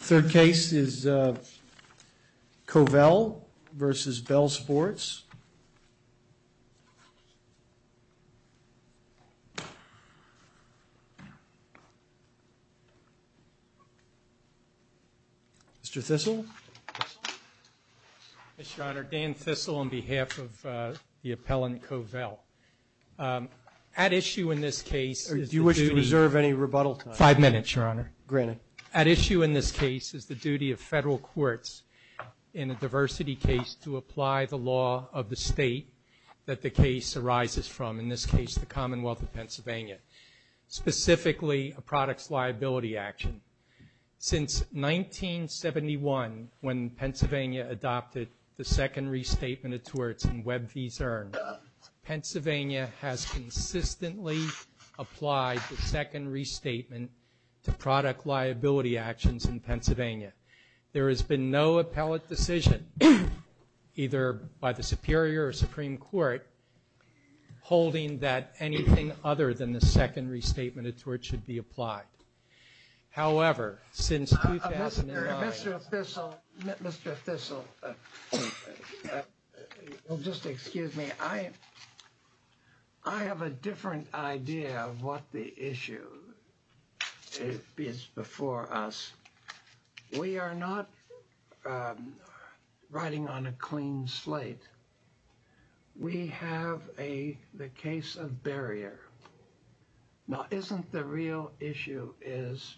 Third case is Covell v. Bell Sports. Mr. Thistle. Mr. Honor, Dan Thistle on behalf of the appellant Covell. At issue in this case is the duty— Do you wish to reserve any rebuttal time? Five minutes, Your Honor. Granted. At issue in this case is the duty of federal courts in a diversity case to apply the law of the state that the case arises from, in this case the Commonwealth of Pennsylvania, specifically a products liability action. Since 1971, when Pennsylvania adopted the second restatement of torts and web fees earned, Pennsylvania has consistently applied the second restatement to product liability actions in Pennsylvania. There has been no appellate decision, either by the Superior or Supreme Court, holding that anything other than the second restatement of torts should be applied. However, since 2009— Mr. Thistle. Mr. Thistle, you'll just excuse me. I have a different idea of what the issue is before us. We are not riding on a clean slate. We have the case of barrier. Now, isn't the real issue is,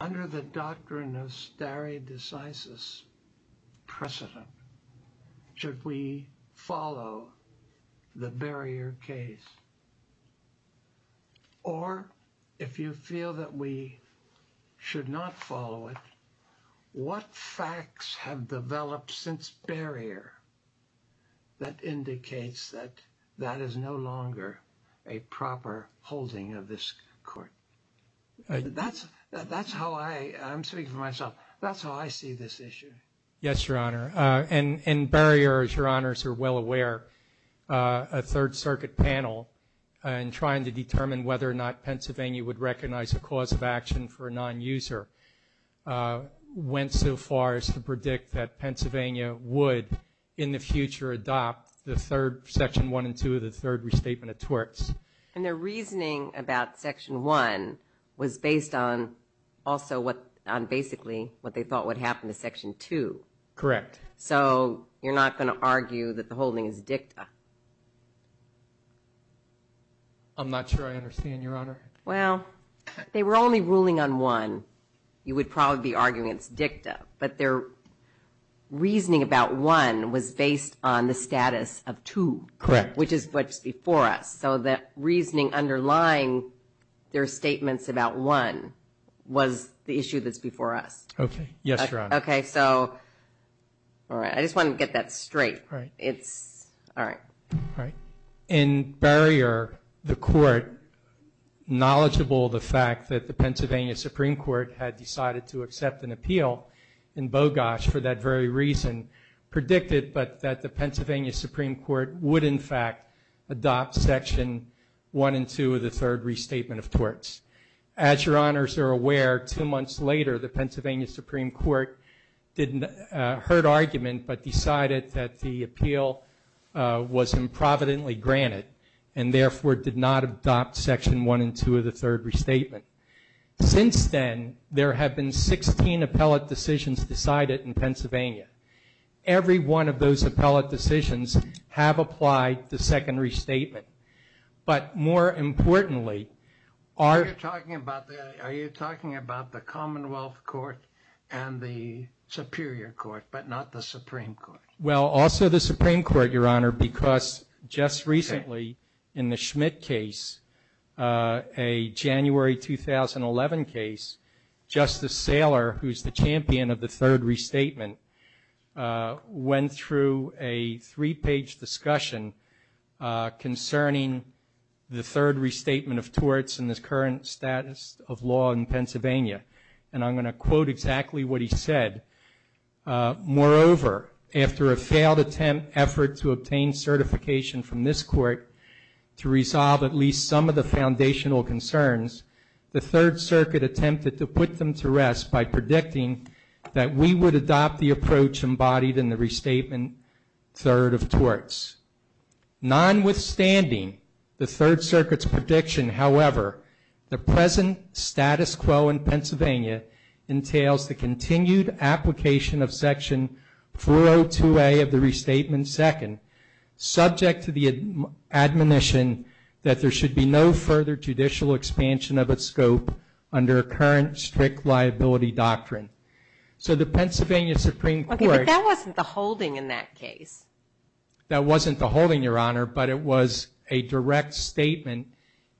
under the doctrine of stare decisis precedent, should we follow the barrier case? Or, if you feel that we should not follow it, what facts have developed since barrier that indicates that that is no longer a proper holding of this court? That's how I—I'm speaking for myself— that's how I see this issue. Yes, Your Honor. In barrier, as Your Honors are well aware, a Third Circuit panel, in trying to determine whether or not Pennsylvania would recognize a cause of action for a nonuser, went so far as to predict that Pennsylvania would, in the future, adopt the third—Section 1 and 2 of the third restatement of torts. And their reasoning about Section 1 was based on, also, on basically what they thought would happen to Section 2. Correct. So, you're not going to argue that the holding is dicta. I'm not sure I understand, Your Honor. Well, if they were only ruling on 1, you would probably be arguing it's dicta. But their reasoning about 1 was based on the status of 2. Correct. Which is what's before us. So, the reasoning underlying their statements about 1 was the issue that's before us. Okay. Yes, Your Honor. Okay. So, all right. I just want to get that straight. All right. It's—all right. All right. In barrier, the Court, knowledgeable of the fact that the Pennsylvania Supreme Court had decided to accept an appeal in Bogosh for that very reason, predicted that the Pennsylvania Supreme Court would, in fact, adopt Section 1 and 2 of the third restatement of torts. As Your Honors are aware, two months later, the Pennsylvania Supreme Court heard argument but decided that the appeal was improvidently granted and, therefore, did not adopt Section 1 and 2 of the third restatement. Since then, there have been 16 appellate decisions decided in Pennsylvania. Every one of those appellate decisions have applied the second restatement. But, more importantly, are— Are you talking about the Commonwealth Court and the Superior Court but not the Supreme Court? Well, also the Supreme Court, Your Honor, because just recently in the Schmidt case, a January 2011 case, Justice Saylor, who's the champion of the third restatement, went through a three-page discussion concerning the third restatement of torts and the current status of law in Pennsylvania. And I'm going to quote exactly what he said. Moreover, after a failed attempt, effort, to obtain certification from this Court to resolve at least some of the foundational concerns, the Third Circuit attempted to put them to rest by predicting that we would adopt the approach embodied in the restatement third of torts. Nonwithstanding the Third Circuit's prediction, however, the present status quo in Pennsylvania entails the continued application of Section 402A of the restatement second, subject to the admonition that there should be no further judicial expansion of its scope under current strict liability doctrine. So the Pennsylvania Supreme Court... Okay, but that wasn't the holding in that case. That wasn't the holding, Your Honor, but it was a direct statement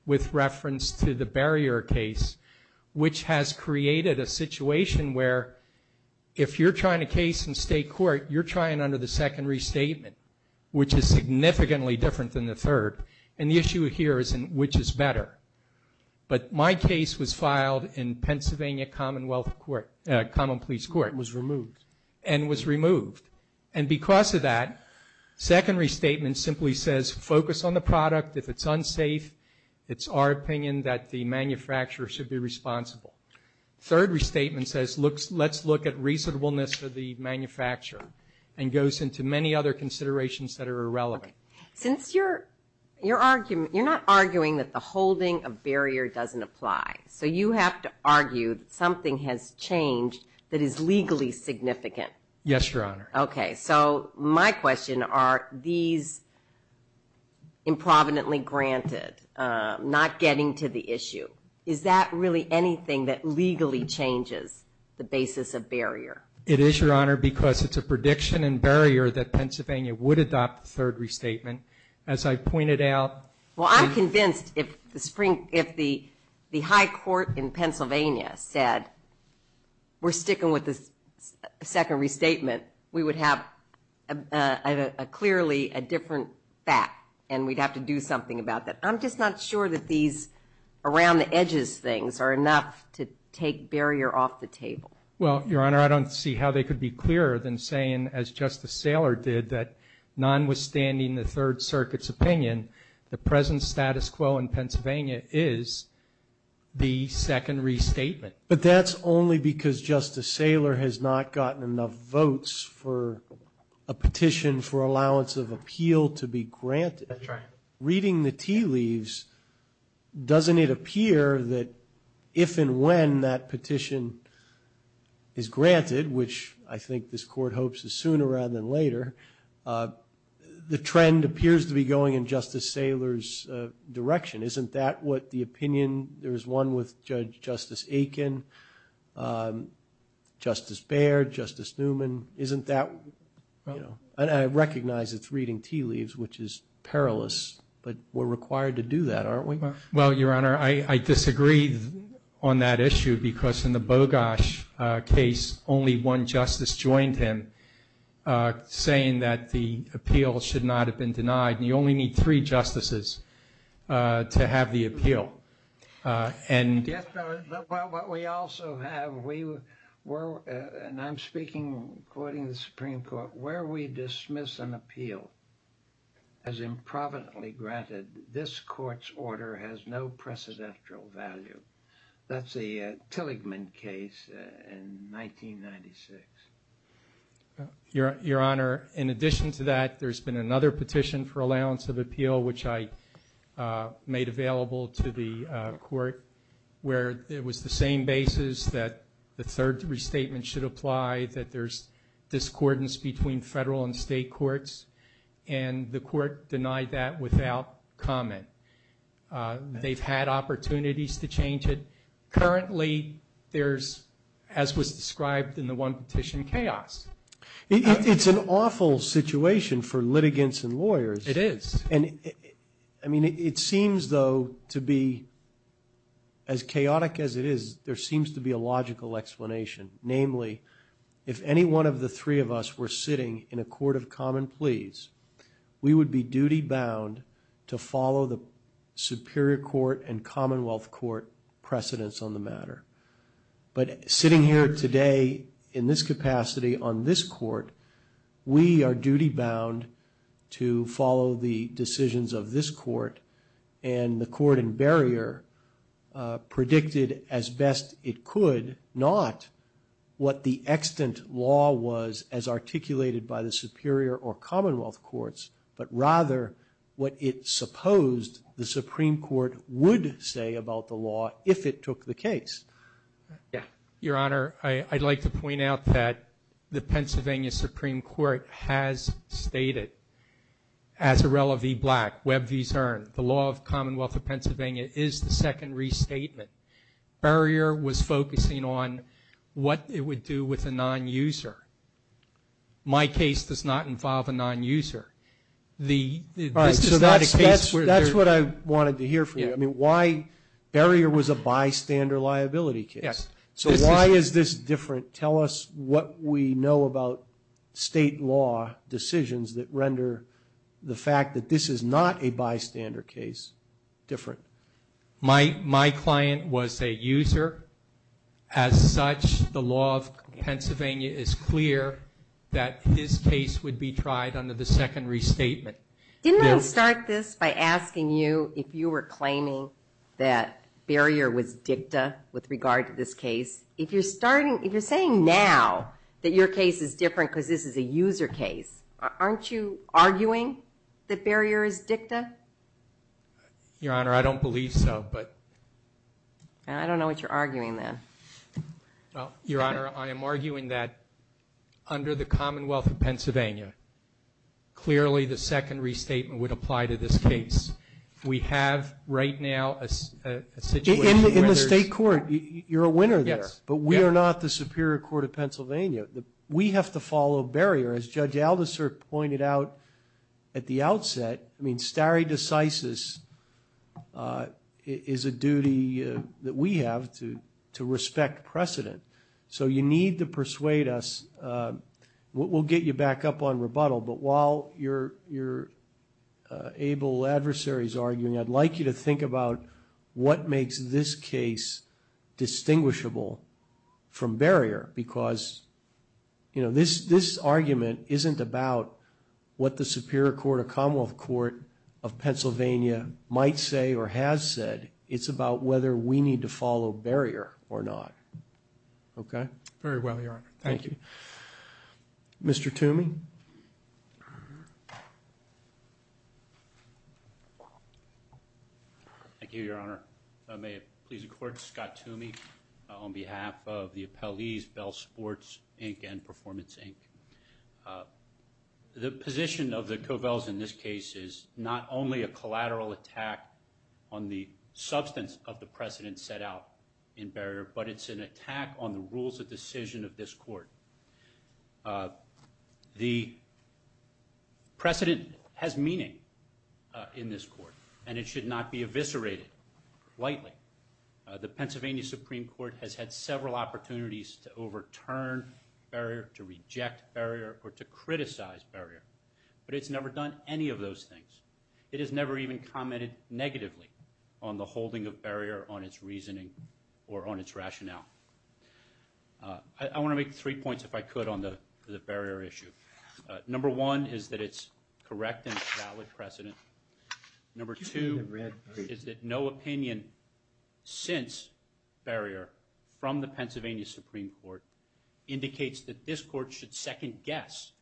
with reference to the barrier case, which has created a situation where if you're trying a case in state court, you're trying under the second restatement, which is significantly different than the third. And the issue here is in which is better. But my case was filed in Pennsylvania Commonwealth Court, Common Pleas Court. It was removed. And was removed. And because of that, second restatement simply says focus on the product. If it's unsafe, it's our opinion that the manufacturer should be responsible. Third restatement says let's look at reasonableness for the manufacturer and goes into many other considerations that are irrelevant. Since you're not arguing that the holding of barrier doesn't apply, so you have to argue that something has changed that is legally significant. Yes, Your Honor. Okay, so my question are these improvidently granted, not getting to the issue, is that really anything that legally changes the basis of barrier? It is, Your Honor, because it's a prediction and barrier that Pennsylvania would adopt the third restatement. As I pointed out. Well, I'm convinced if the high court in Pennsylvania said, we're sticking with the second restatement, we would have clearly a different fact, and we'd have to do something about that. I'm just not sure that these around the edges things are enough to take barrier off the table. Well, Your Honor, I don't see how they could be clearer than saying, as Justice Saylor did, that nonwithstanding the Third Circuit's opinion, the present status quo in Pennsylvania is the second restatement. But that's only because Justice Saylor has not gotten enough votes for a petition for allowance of appeal to be granted. That's right. Reading the tea leaves, doesn't it appear that if and when that petition is granted, which I think this Court hopes is sooner rather than later, the trend appears to be going in Justice Saylor's direction. Isn't that what the opinion, there was one with Judge Justice Aiken, Justice Baird, Justice Newman, isn't that, you know? I recognize it's reading tea leaves, which is perilous, but we're required to do that, aren't we? Well, Your Honor, I disagree on that issue because in the Bogosh case, only one justice joined him saying that the appeal should not have been denied, and you only need three justices to have the appeal. Yes, but what we also have, and I'm speaking according to the Supreme Court, where we dismiss an appeal as improvidently granted, this Court's order has no precedential value. That's the Tilligman case in 1996. Your Honor, in addition to that, there's been another petition for allowance of appeal, which I made available to the Court, where it was the same basis that the third restatement should apply, that there's discordance between federal and state courts, and the Court denied that without comment. They've had opportunities to change it. Currently, there's, as was described in the one petition, chaos. It's an awful situation for litigants and lawyers. It is. I mean, it seems, though, to be, as chaotic as it is, there seems to be a logical explanation, namely, if any one of the three of us were sitting in a court of common pleas, we would be duty-bound to follow the Superior Court and Commonwealth Court precedents on the matter. But sitting here today in this capacity on this Court, we are duty-bound to follow the decisions of this Court, and the Court in barrier predicted, as best it could, not what the extant law was as articulated by the Superior or Commonwealth Courts, but rather what it supposed the Supreme Court would say about the law if it took the case. Your Honor, I'd like to point out that the Pennsylvania Supreme Court has stated, as Arella v. Black, Webb v. Cern, the law of the Commonwealth of Pennsylvania is the second restatement. Barrier was focusing on what it would do with a non-user. My case does not involve a non-user. All right, so that's what I wanted to hear from you. I mean, why barrier was a bystander liability case. Yes. So why is this different? Tell us what we know about state law decisions that render the fact that this is not a bystander case different. My client was a user. As such, the law of Pennsylvania is clear that his case would be tried under the second restatement. Didn't I start this by asking you if you were claiming that barrier was dicta with regard to this case? If you're saying now that your case is different because this is a user case, aren't you arguing that barrier is dicta? Your Honor, I don't believe so. I don't know what you're arguing then. Your Honor, I am arguing that under the Commonwealth of Pennsylvania, clearly the second restatement would apply to this case. We have right now a situation where there's – But we are not the Superior Court of Pennsylvania. We have to follow barrier. As Judge Aldiserk pointed out at the outset, I mean, stare decisis is a duty that we have to respect precedent. So you need to persuade us. We'll get you back up on rebuttal, but while your able adversary is arguing, I'd like you to think about what makes this case distinguishable from barrier because this argument isn't about what the Superior Court or Commonwealth Court of Pennsylvania might say or has said. It's about whether we need to follow barrier or not. Okay? Very well, Your Honor. Thank you. Mr. Toomey? Thank you, Your Honor. May it please the Court, Scott Toomey on behalf of the appellees, Bell Sports, Inc. and Performance, Inc. The position of the Covels in this case is not only a collateral attack on the substance of the precedent set out in barrier, but it's an attack on the rules of decision of this court. The precedent has meaning in this court, and it should not be eviscerated lightly. The Pennsylvania Supreme Court has had several opportunities to overturn barrier, to reject barrier, or to criticize barrier, but it's never done any of those things. It has never even commented negatively on the holding of barrier on its reasoning or on its rationale. I want to make three points, if I could, on the barrier issue. Number one is that it's correct and valid precedent. Number two is that no opinion since barrier from the Pennsylvania Supreme Court indicates that this court should second-guess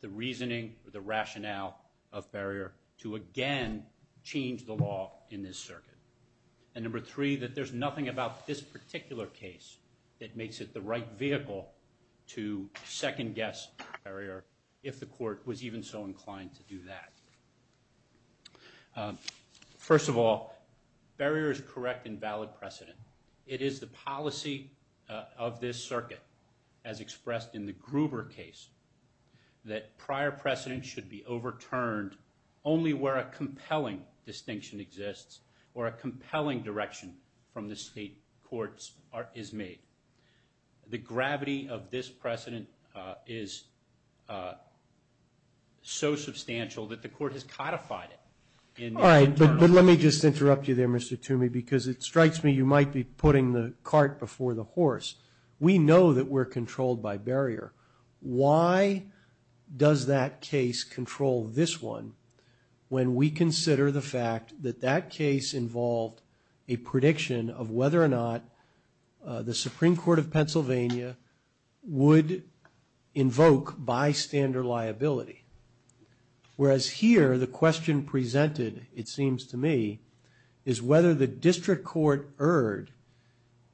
the reasoning or the rationale of barrier to again change the law in this circuit. And number three, that there's nothing about this particular case that makes it the right vehicle to second-guess barrier, if the court was even so inclined to do that. First of all, barrier is correct and valid precedent. It is the policy of this circuit, as expressed in the Gruber case, that prior precedent should be overturned only where a compelling distinction exists or a compelling direction from the state courts is made. The gravity of this precedent is so substantial that the court has codified it. All right, but let me just interrupt you there, Mr. Toomey, because it strikes me you might be putting the cart before the horse. We know that we're controlled by barrier. Why does that case control this one when we consider the fact that that case involved a prediction of whether or not the Supreme Court of Pennsylvania would invoke bystander liability, whereas here the question presented, it seems to me, is whether the district court erred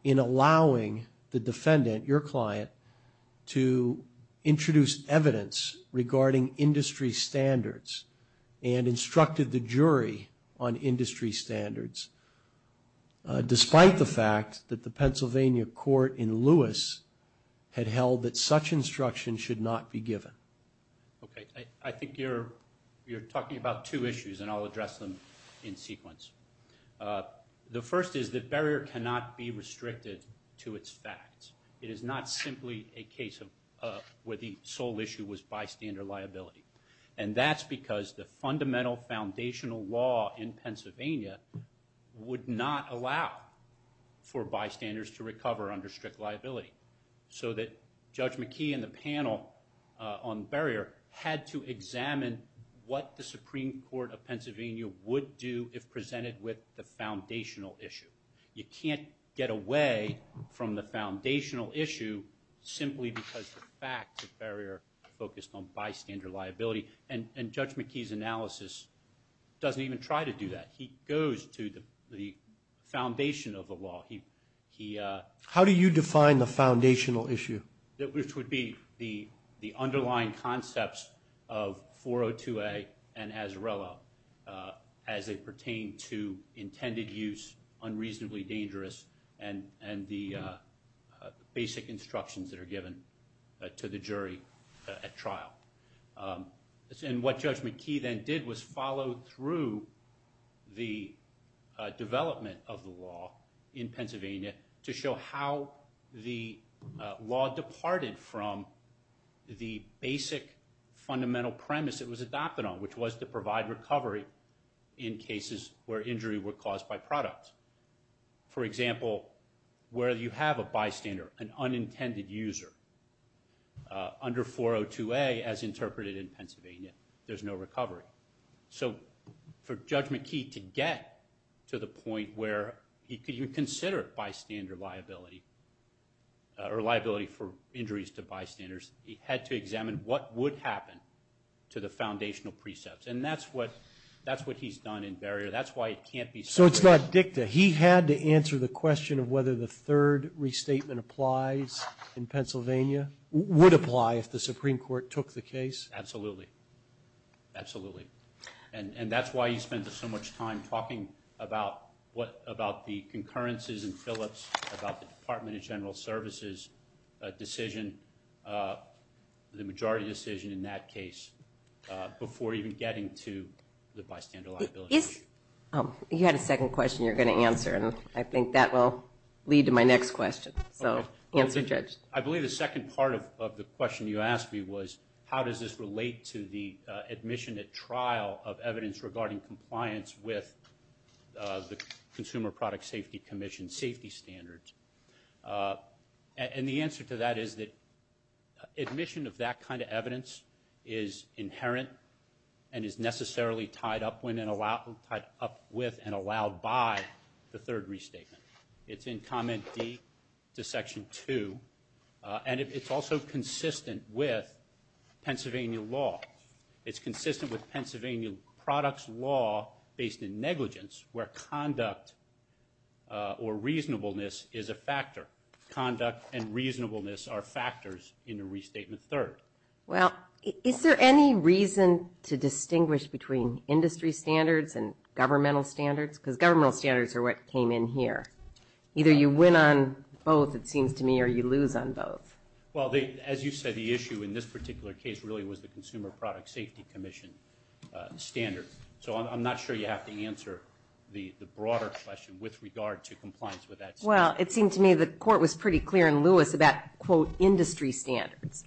in allowing the defendant, your client, to introduce evidence regarding industry standards and instructed the jury on industry standards, despite the fact that the Pennsylvania court in Lewis had held that such instruction should not be given. Okay, I think you're talking about two issues, and I'll address them in sequence. The first is that barrier cannot be restricted to its facts. It is not simply a case where the sole issue was bystander liability, and that's because the fundamental foundational law in Pennsylvania would not allow for bystanders to recover under strict liability, so that Judge McKee and the panel on barrier had to examine what the Supreme Court of Pennsylvania would do if presented with the foundational issue. You can't get away from the foundational issue simply because the facts of barrier focused on bystander liability, and Judge McKee's analysis doesn't even try to do that. He goes to the foundation of the law. How do you define the foundational issue? Which would be the underlying concepts of 402A and Azarella as they pertain to intended use, unreasonably dangerous, and the basic instructions that are given to the jury at trial. And what Judge McKee then did was follow through the development of the law in Pennsylvania to show how the law departed from the basic fundamental premise it was adopted on, which was to provide recovery in cases where injury were caused by product. For example, where you have a bystander, an unintended user, under 402A as interpreted in Pennsylvania, there's no recovery. So for Judge McKee to get to the point where he could even consider bystander liability or liability for injuries to bystanders, he had to examine what would happen to the foundational precepts, and that's what he's done in barrier. So it's not dicta. He had to answer the question of whether the third restatement applies in Pennsylvania, would apply if the Supreme Court took the case? Absolutely. Absolutely. And that's why he spends so much time talking about the concurrences in Phillips, about the Department of General Services decision, the majority decision in that case, before even getting to the bystander liability issue. You had a second question you were going to answer, and I think that will lead to my next question. So answer, Judge. I believe the second part of the question you asked me was, how does this relate to the admission at trial of evidence regarding compliance with the Consumer Product Safety Commission safety standards? And the answer to that is that admission of that kind of evidence is inherent and is necessarily tied up with and allowed by the third restatement. It's in Comment D to Section 2, and it's also consistent with Pennsylvania law. It's consistent with Pennsylvania products law based in negligence, where conduct or reasonableness is a factor. Conduct and reasonableness are factors in a restatement third. Well, is there any reason to distinguish between industry standards and governmental standards? Because governmental standards are what came in here. Either you win on both, it seems to me, or you lose on both. Well, as you said, the issue in this particular case really was the Consumer Product Safety Commission standard. So I'm not sure you have to answer the broader question with regard to compliance with that standard. Well, it seemed to me the Court was pretty clear in Lewis about, quote, industry standards.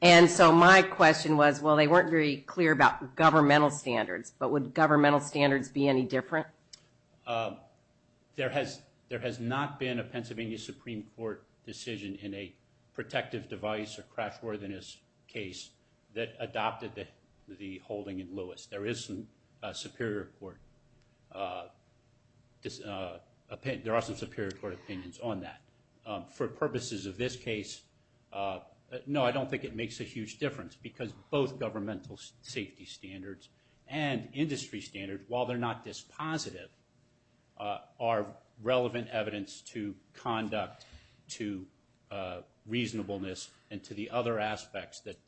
And so my question was, well, they weren't very clear about governmental standards, but would governmental standards be any different? There has not been a Pennsylvania Supreme Court decision in a protective device There are some Superior Court opinions on that. For purposes of this case, no, I don't think it makes a huge difference because both governmental safety standards and industry standards, while they're not dispositive, are relevant evidence to conduct, to reasonableness, and to the other aspects that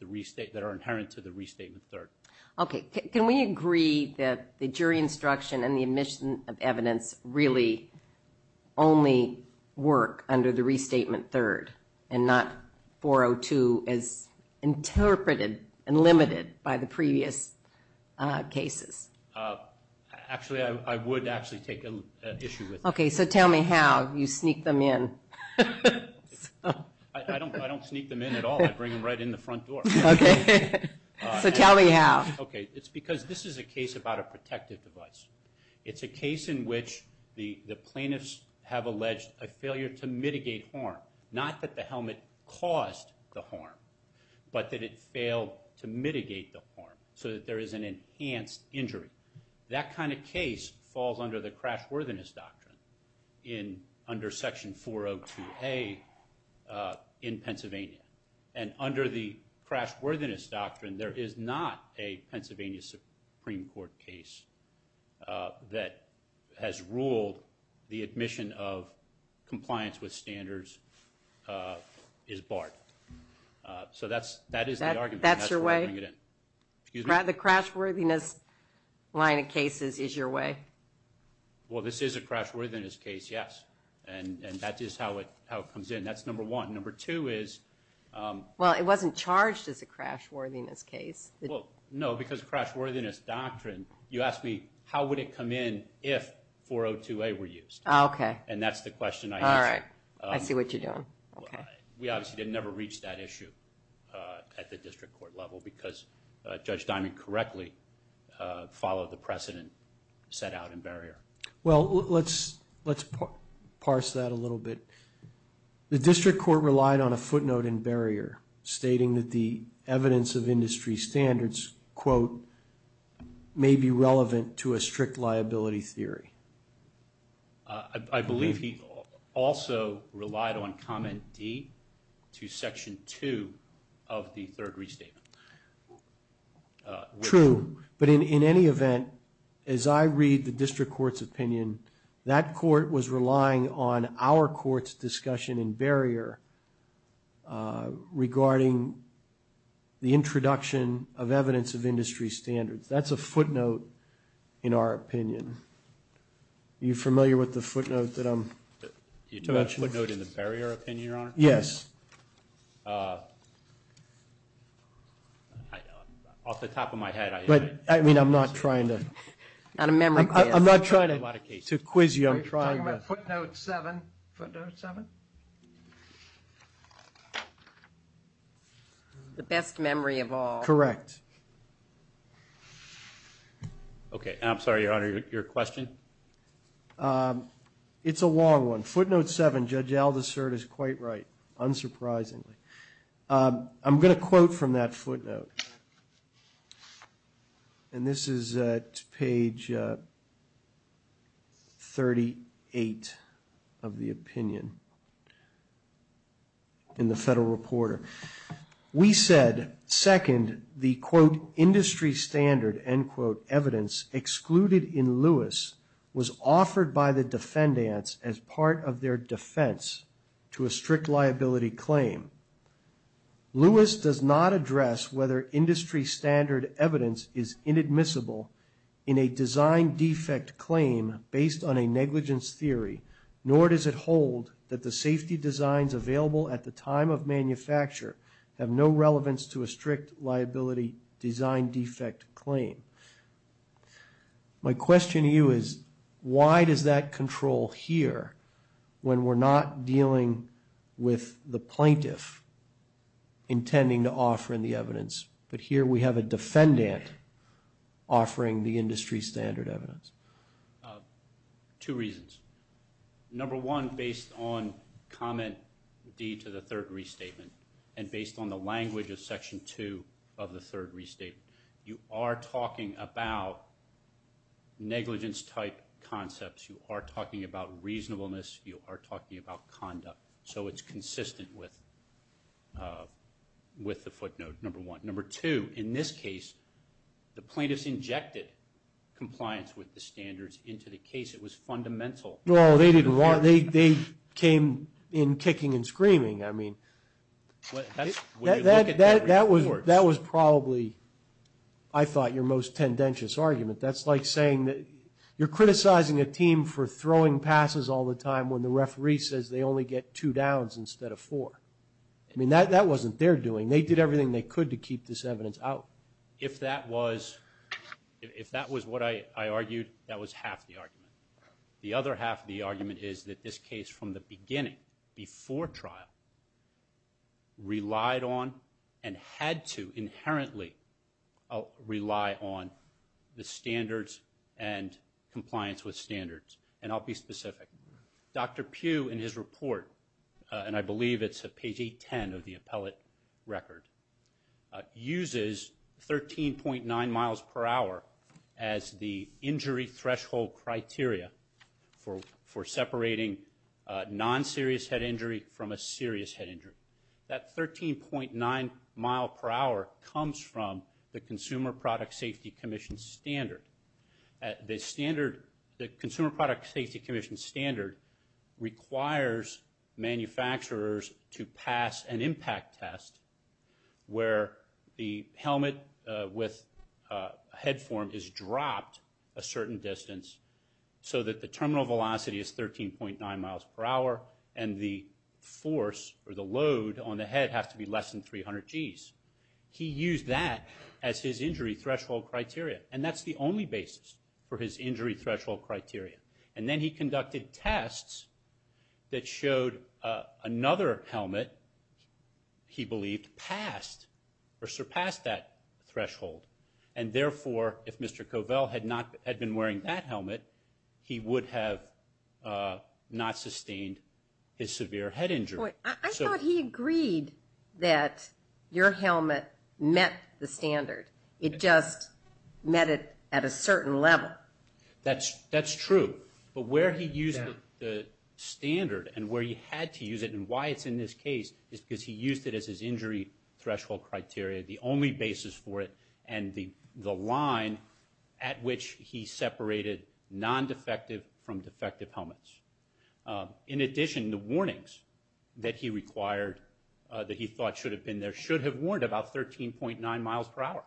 are inherent to the restatement third. Okay, can we agree that the jury instruction and the admission of evidence really only work under the restatement third and not 402 as interpreted and limited by the previous cases? Actually, I would actually take an issue with that. Okay, so tell me how you sneak them in. I don't sneak them in at all. I bring them right in the front door. Okay, so tell me how. It's because this is a case about a protective device. It's a case in which the plaintiffs have alleged a failure to mitigate harm, not that the helmet caused the harm, but that it failed to mitigate the harm so that there is an enhanced injury. That kind of case falls under the crashworthiness doctrine under Section 402A in Pennsylvania. And under the crashworthiness doctrine, there is not a Pennsylvania Supreme Court case that has ruled the admission of compliance with standards is barred. So that is the argument, and that's why I bring it in. The crashworthiness line of cases is your way? Well, this is a crashworthiness case, yes, and that is how it comes in. That's number one. Number two is... Well, it wasn't charged as a crashworthiness case. Well, no, because of the crashworthiness doctrine, you asked me how would it come in if 402A were used. Okay. And that's the question I asked. All right, I see what you're doing. We obviously didn't ever reach that issue at the district court level because Judge Diamond correctly followed the precedent set out in barrier. Well, let's parse that a little bit. The district court relied on a footnote in barrier stating that the evidence of industry standards, quote, may be relevant to a strict liability theory. I believe he also relied on Comment D to Section 2 of the third restatement. True, but in any event, as I read the district court's opinion, that court was relying on our court's discussion in barrier regarding the introduction of evidence of industry standards. That's a footnote in our opinion. Are you familiar with the footnote that I'm... You're talking about the footnote in the barrier opinion, Your Honor? Yes. Off the top of my head, I am. But, I mean, I'm not trying to... Not a memory quiz. I'm not trying to quiz you. I'm trying to... Are you talking about footnote 7? Footnote 7? The best memory of all. Correct. Okay. I'm sorry, Your Honor, your question? It's a long one. Footnote 7, Judge Aldersert is quite right, unsurprisingly. I'm going to quote from that footnote. And this is at page 38 of the opinion in the Federal Reporter. We said, second, the, quote, industry standard, end quote, evidence, excluded in Lewis, was offered by the defendants as part of their defense to a strict liability claim. Lewis does not address whether industry standard evidence is inadmissible in a design defect claim based on a negligence theory, nor does it hold that the safety designs available at the time of My question to you is, why does that control here when we're not dealing with the plaintiff intending to offer in the evidence, but here we have a defendant offering the industry standard evidence? Two reasons. Number one, based on comment D to the third restatement, and based on the language of section 2 of the third restatement, you are talking about negligence-type concepts. You are talking about reasonableness. You are talking about conduct. So it's consistent with the footnote, number one. Number two, in this case, the plaintiffs injected compliance with the standards into the case. It was fundamental. No, they didn't want it. They came in kicking and screaming. I mean, that was probably, I thought, your most tendentious argument. That's like saying that you're criticizing a team for throwing passes all the time when the referee says they only get two downs instead of four. I mean, that wasn't their doing. They did everything they could to keep this evidence out. If that was what I argued, that was half the argument. The other half of the argument is that this case, from the beginning, before trial, relied on and had to inherently rely on the standards and compliance with standards. And I'll be specific. Dr. Pugh, in his report, and I believe it's at page 810 of the appellate record, uses 13.9 miles per hour as the injury threshold criteria for separating non-serious head injury from a serious head injury. That 13.9 mile per hour comes from the Consumer Product Safety Commission standard. The consumer product safety commission standard requires manufacturers to pass an impact test where the helmet with head form is dropped a certain distance so that the terminal velocity is 13.9 miles per hour and the force or the load on the head has to be less than 300 Gs. He used that as his injury threshold criteria, and that's the only basis for his injury threshold criteria. And then he conducted tests that showed another helmet, he believed, passed or surpassed that threshold. And therefore, if Mr. Covell had been wearing that helmet, he would have not sustained his severe head injury. I thought he agreed that your helmet met the standard. It just met it at a certain level. That's true. But where he used the standard and where he had to use it and why it's in this case is because he used it as his injury threshold criteria, the only basis for it, and the line at which he separated non-defective from defective helmets. In addition, the warnings that he required that he thought should have been there should have warned about 13.9 miles per hour.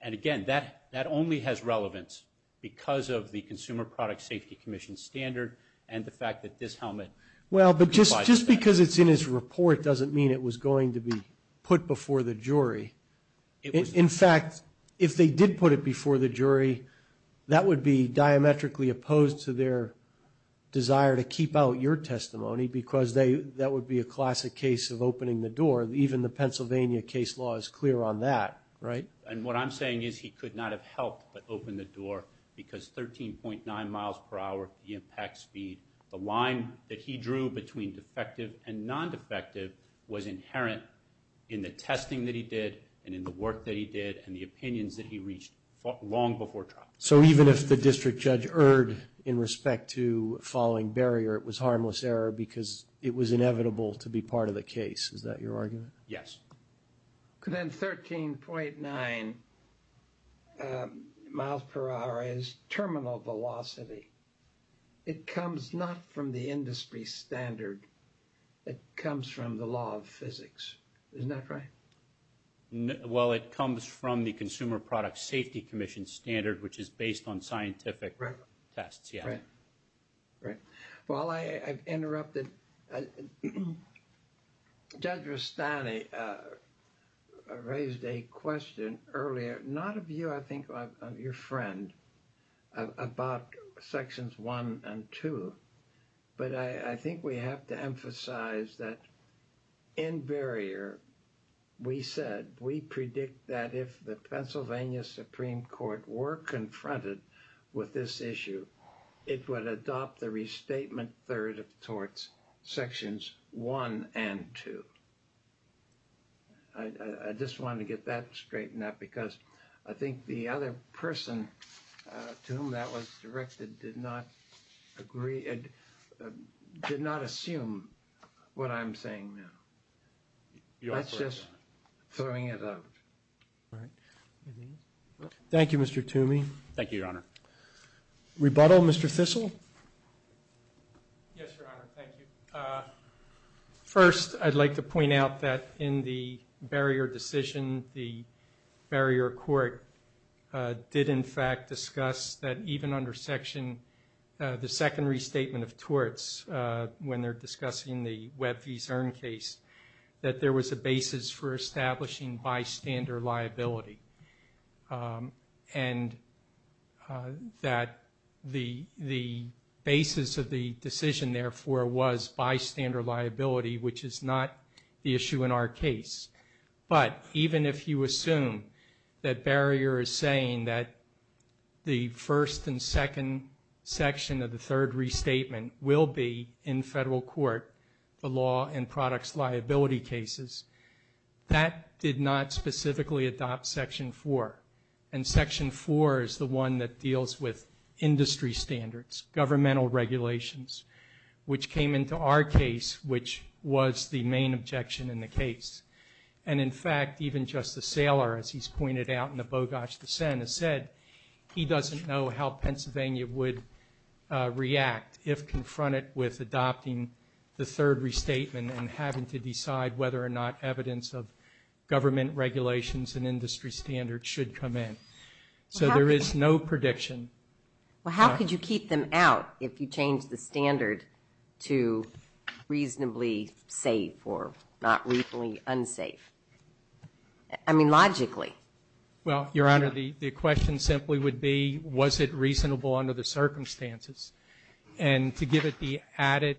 And, again, that only has relevance because of the Consumer Product Safety Commission standard and the fact that this helmet provides that. Well, but just because it's in his report doesn't mean it was going to be put before the jury. In fact, if they did put it before the jury, that would be diametrically opposed to their desire to keep out your testimony because that would be a classic case of opening the door. Even the Pennsylvania case law is clear on that, right? And what I'm saying is he could not have helped but open the door because 13.9 miles per hour, the impact speed, the line that he drew between defective and non-defective was inherent in the testing that he did and in the work that he did and the opinions that he reached long before trial. So even if the district judge erred in respect to following barrier, it was harmless error because it was inevitable to be part of the case. Is that your argument? Yes. Then 13.9 miles per hour is terminal velocity. It comes not from the industry standard. It comes from the law of physics. Isn't that right? Well, it comes from the Consumer Product Safety Commission standard, which is based on scientific tests. Right. Well, I've interrupted. Judge Rustani raised a question earlier, not of you, I think of your friend, about Sections 1 and 2, but I think we have to emphasize that in barrier, we said, we predict that if the Pennsylvania Supreme Court were confronted with this issue, it would adopt the restatement third of the torts, Sections 1 and 2. I just wanted to get that straightened up because I think the other person to whom that was directed did not agree, did not assume what I'm saying now. That's just throwing it out. Thank you, Mr. Toomey. Thank you, Your Honor. Rebuttal, Mr. Thistle. Yes, Your Honor. Thank you. First, I'd like to point out that in the barrier decision, the barrier court did, in fact, discuss that even under Section, the second restatement of torts when they're discussing the Webb v. Zern case, that there was a basis for establishing bystander liability. And that the basis of the decision, therefore, was bystander liability, which is not the issue in our case. But even if you assume that barrier is saying that the first and second section of the third restatement will be in federal court, the law and products liability cases, that did not specifically adopt Section 4. And Section 4 is the one that deals with industry standards, governmental regulations, which came into our case, which was the main objection in the case. And, in fact, even Justice Saylor, as he's pointed out in the Bogosh dissent, has said he doesn't know how Pennsylvania would react if confronted with adopting the third restatement and having to decide whether or not evidence of government regulations and industry standards should come in. So there is no prediction. Well, how could you keep them out if you changed the standard to reasonably safe or not reasonably unsafe? I mean, logically. Well, Your Honor, the question simply would be, was it reasonable under the circumstances? And to give it the added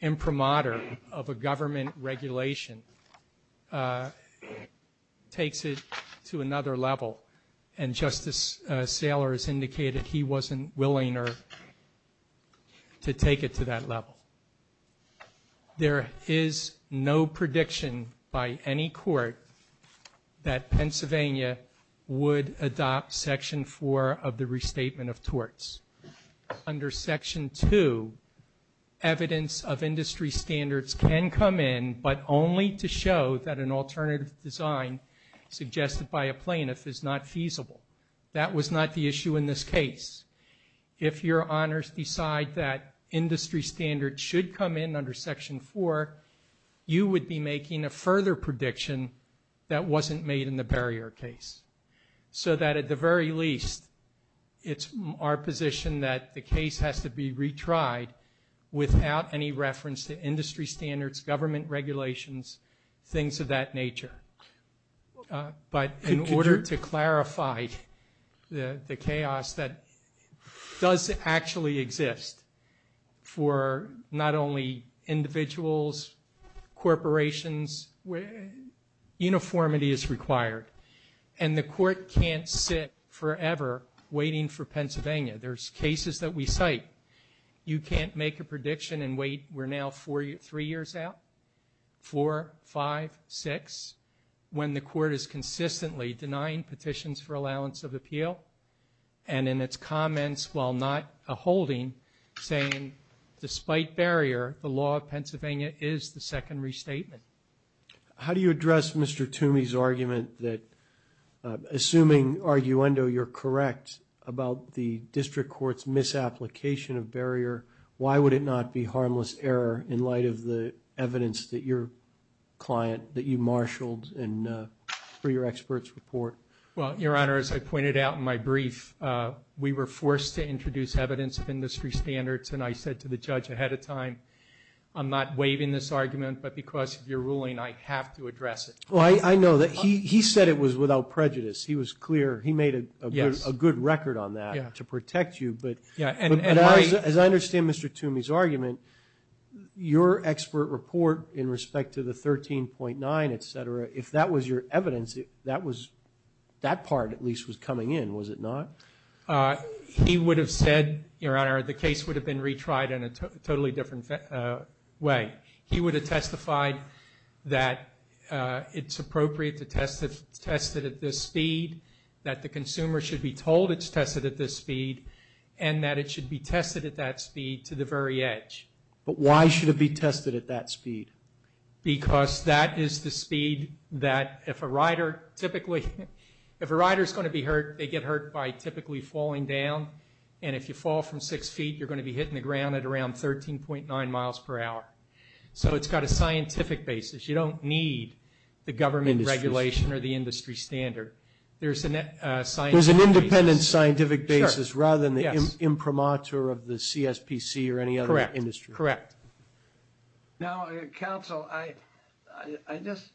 imprimatur of a government regulation takes it to another level. And Justice Saylor has indicated he wasn't willing to take it to that level. There is no prediction by any court that Pennsylvania would adopt Section 4 of the Restatement of Torts. Under Section 2, evidence of industry standards can come in, but only to show that an alternative design suggested by a plaintiff is not feasible. That was not the issue in this case. If Your Honors decide that industry standards should come in under Section 4, you would be making a further prediction that wasn't made in the barrier case so that at the very least it's our position that the case has to be retried without any reference to industry standards, government regulations, things of that nature. But in order to clarify the chaos that does actually exist for not only individuals, corporations, uniformity is required. And the court can't sit forever waiting for Pennsylvania. There's cases that we cite. You can't make a prediction and wait. We're now three years out, four, five, six, when the court is consistently denying petitions for allowance of appeal and in its comments while not a holding saying, despite barrier, the law of Pennsylvania is the second restatement. How do you address Mr. Toomey's argument that assuming, arguendo, you're correct about the district court's misapplication of barrier, why would it not be harmless error in light of the evidence that your client, that you marshaled for your expert's report? Well, Your Honor, as I pointed out in my brief, we were forced to introduce evidence of industry standards, and I said to the judge ahead of time, I'm not waiving this argument, but because of your ruling, I have to address it. Well, I know. He said it was without prejudice. He was clear. He made a good record on that to protect you. But as I understand Mr. Toomey's argument, your expert report in respect to the 13.9, et cetera, if that was your evidence, that part at least was coming in, was it not? He would have said, Your Honor, the case would have been retried in a totally different way. He would have testified that it's appropriate to test it at this speed, that the consumer should be told it's tested at this speed, and that it should be tested at that speed to the very edge. But why should it be tested at that speed? Because that is the speed that if a rider typically – if a rider is going to be hurt, they get hurt by typically falling down, and if you fall from six feet, you're going to be hitting the ground at around 13.9 miles per hour. So it's got a scientific basis. You don't need the government regulation or the industry standard. There's a scientific basis. There's an independent scientific basis rather than the imprimatur of the CSPC or any other industry. Correct. Now, counsel, I just –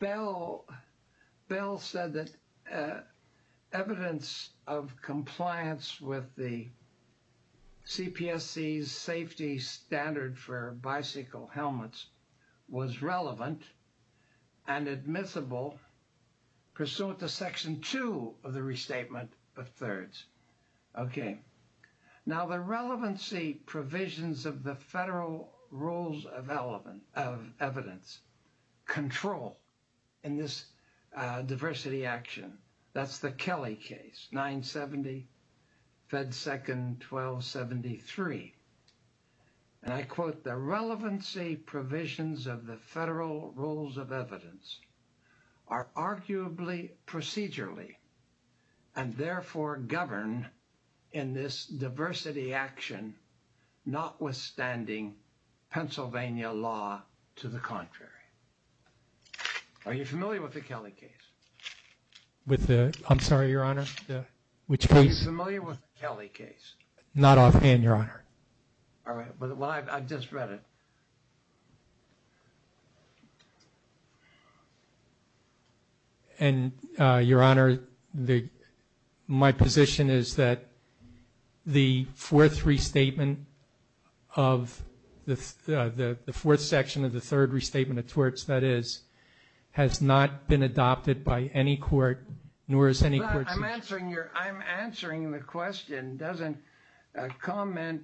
Bill said that evidence of compliance with the CPSC's safety standard for bicycle helmets was relevant and admissible pursuant to Section 2 of the Restatement of Thirds. Okay. Now, the relevancy provisions of the federal rules of evidence control in this diversity action. That's the Kelly case, 970, Fed 2nd, 1273. And I quote, the relevancy provisions of the federal rules of evidence are arguably procedurally and therefore govern in this diversity action notwithstanding Pennsylvania law to the contrary. Are you familiar with the Kelly case? I'm sorry, Your Honor, which case? Are you familiar with the Kelly case? Not offhand, Your Honor. All right. Well, I've just read it. And, Your Honor, my position is that the fourth restatement of the – the fourth section of the Third Restatement of Thirds, that is, has not been adopted by any court nor is any court – I'm answering your – I'm answering the question. Doesn't comment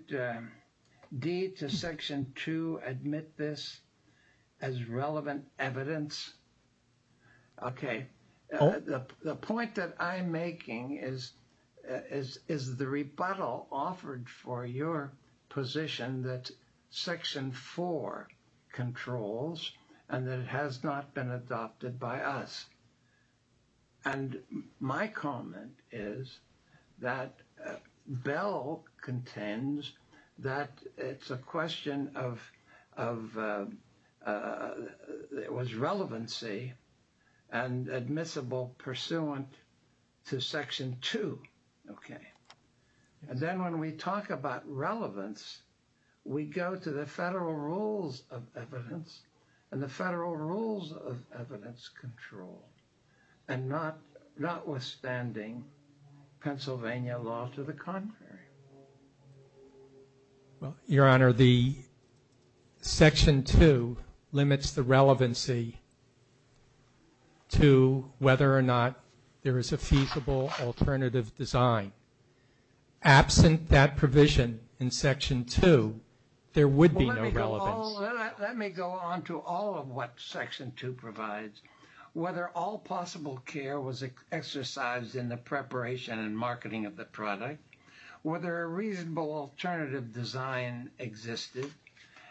D to Section 2 admit this as relevant evidence? Okay. The point that I'm making is the rebuttal offered for your position that Section 4 controls and that it has not been adopted by us. And my comment is that Bell contends that it's a question of – it was relevancy and admissible pursuant to Section 2. Okay. And then when we talk about relevance, we go to the federal rules of evidence and the federal rules of evidence control and notwithstanding Pennsylvania law to the contrary. Well, Your Honor, the Section 2 limits the relevancy to whether or not there is a feasible alternative design. Absent that provision in Section 2, there would be no relevance. Let me go on to all of what Section 2 provides. Whether all possible care was exercised in the preparation and marketing of the product, whether a reasonable alternative design existed,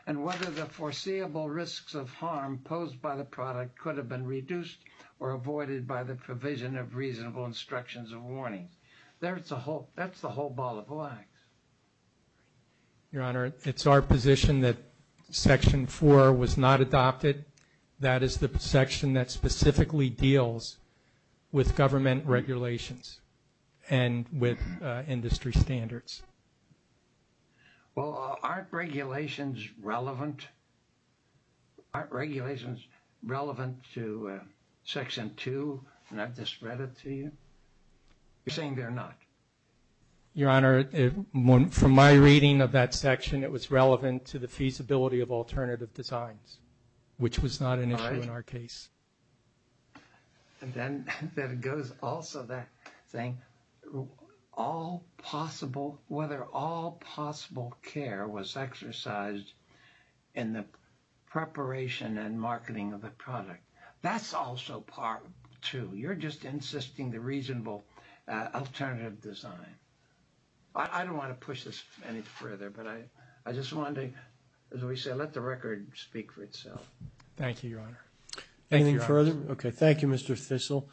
and whether the foreseeable risks of harm posed by the product could have been reduced or avoided by the provision of reasonable instructions or warnings. That's the whole ball of wax. Your Honor, it's our position that Section 4 was not adopted. That is the section that specifically deals with government regulations and with industry standards. Well, aren't regulations relevant? Aren't regulations relevant to Section 2? And I've just read it to you. You're saying they're not. Your Honor, from my reading of that section, it was relevant to the feasibility of alternative designs, which was not an issue in our case. And then there goes also that thing, whether all possible care was exercised in the preparation and marketing of the product. That's also Part 2. You're just insisting the reasonable alternative design. I don't want to push this any further, but I just wanted to, as we say, let the record speak for itself. Thank you, Your Honor. Anything further? Okay, thank you, Mr. Thistle.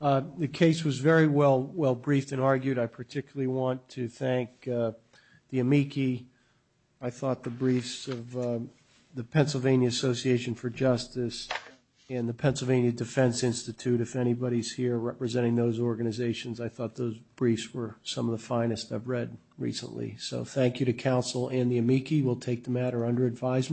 The case was very well briefed and argued. I particularly want to thank the amici, I thought, the briefs of the Pennsylvania Association for Justice and the Pennsylvania Defense Institute. If anybody's here representing those organizations, I thought those briefs were some of the finest I've read recently. So thank you to counsel and the amici. We'll take the matter under advisement.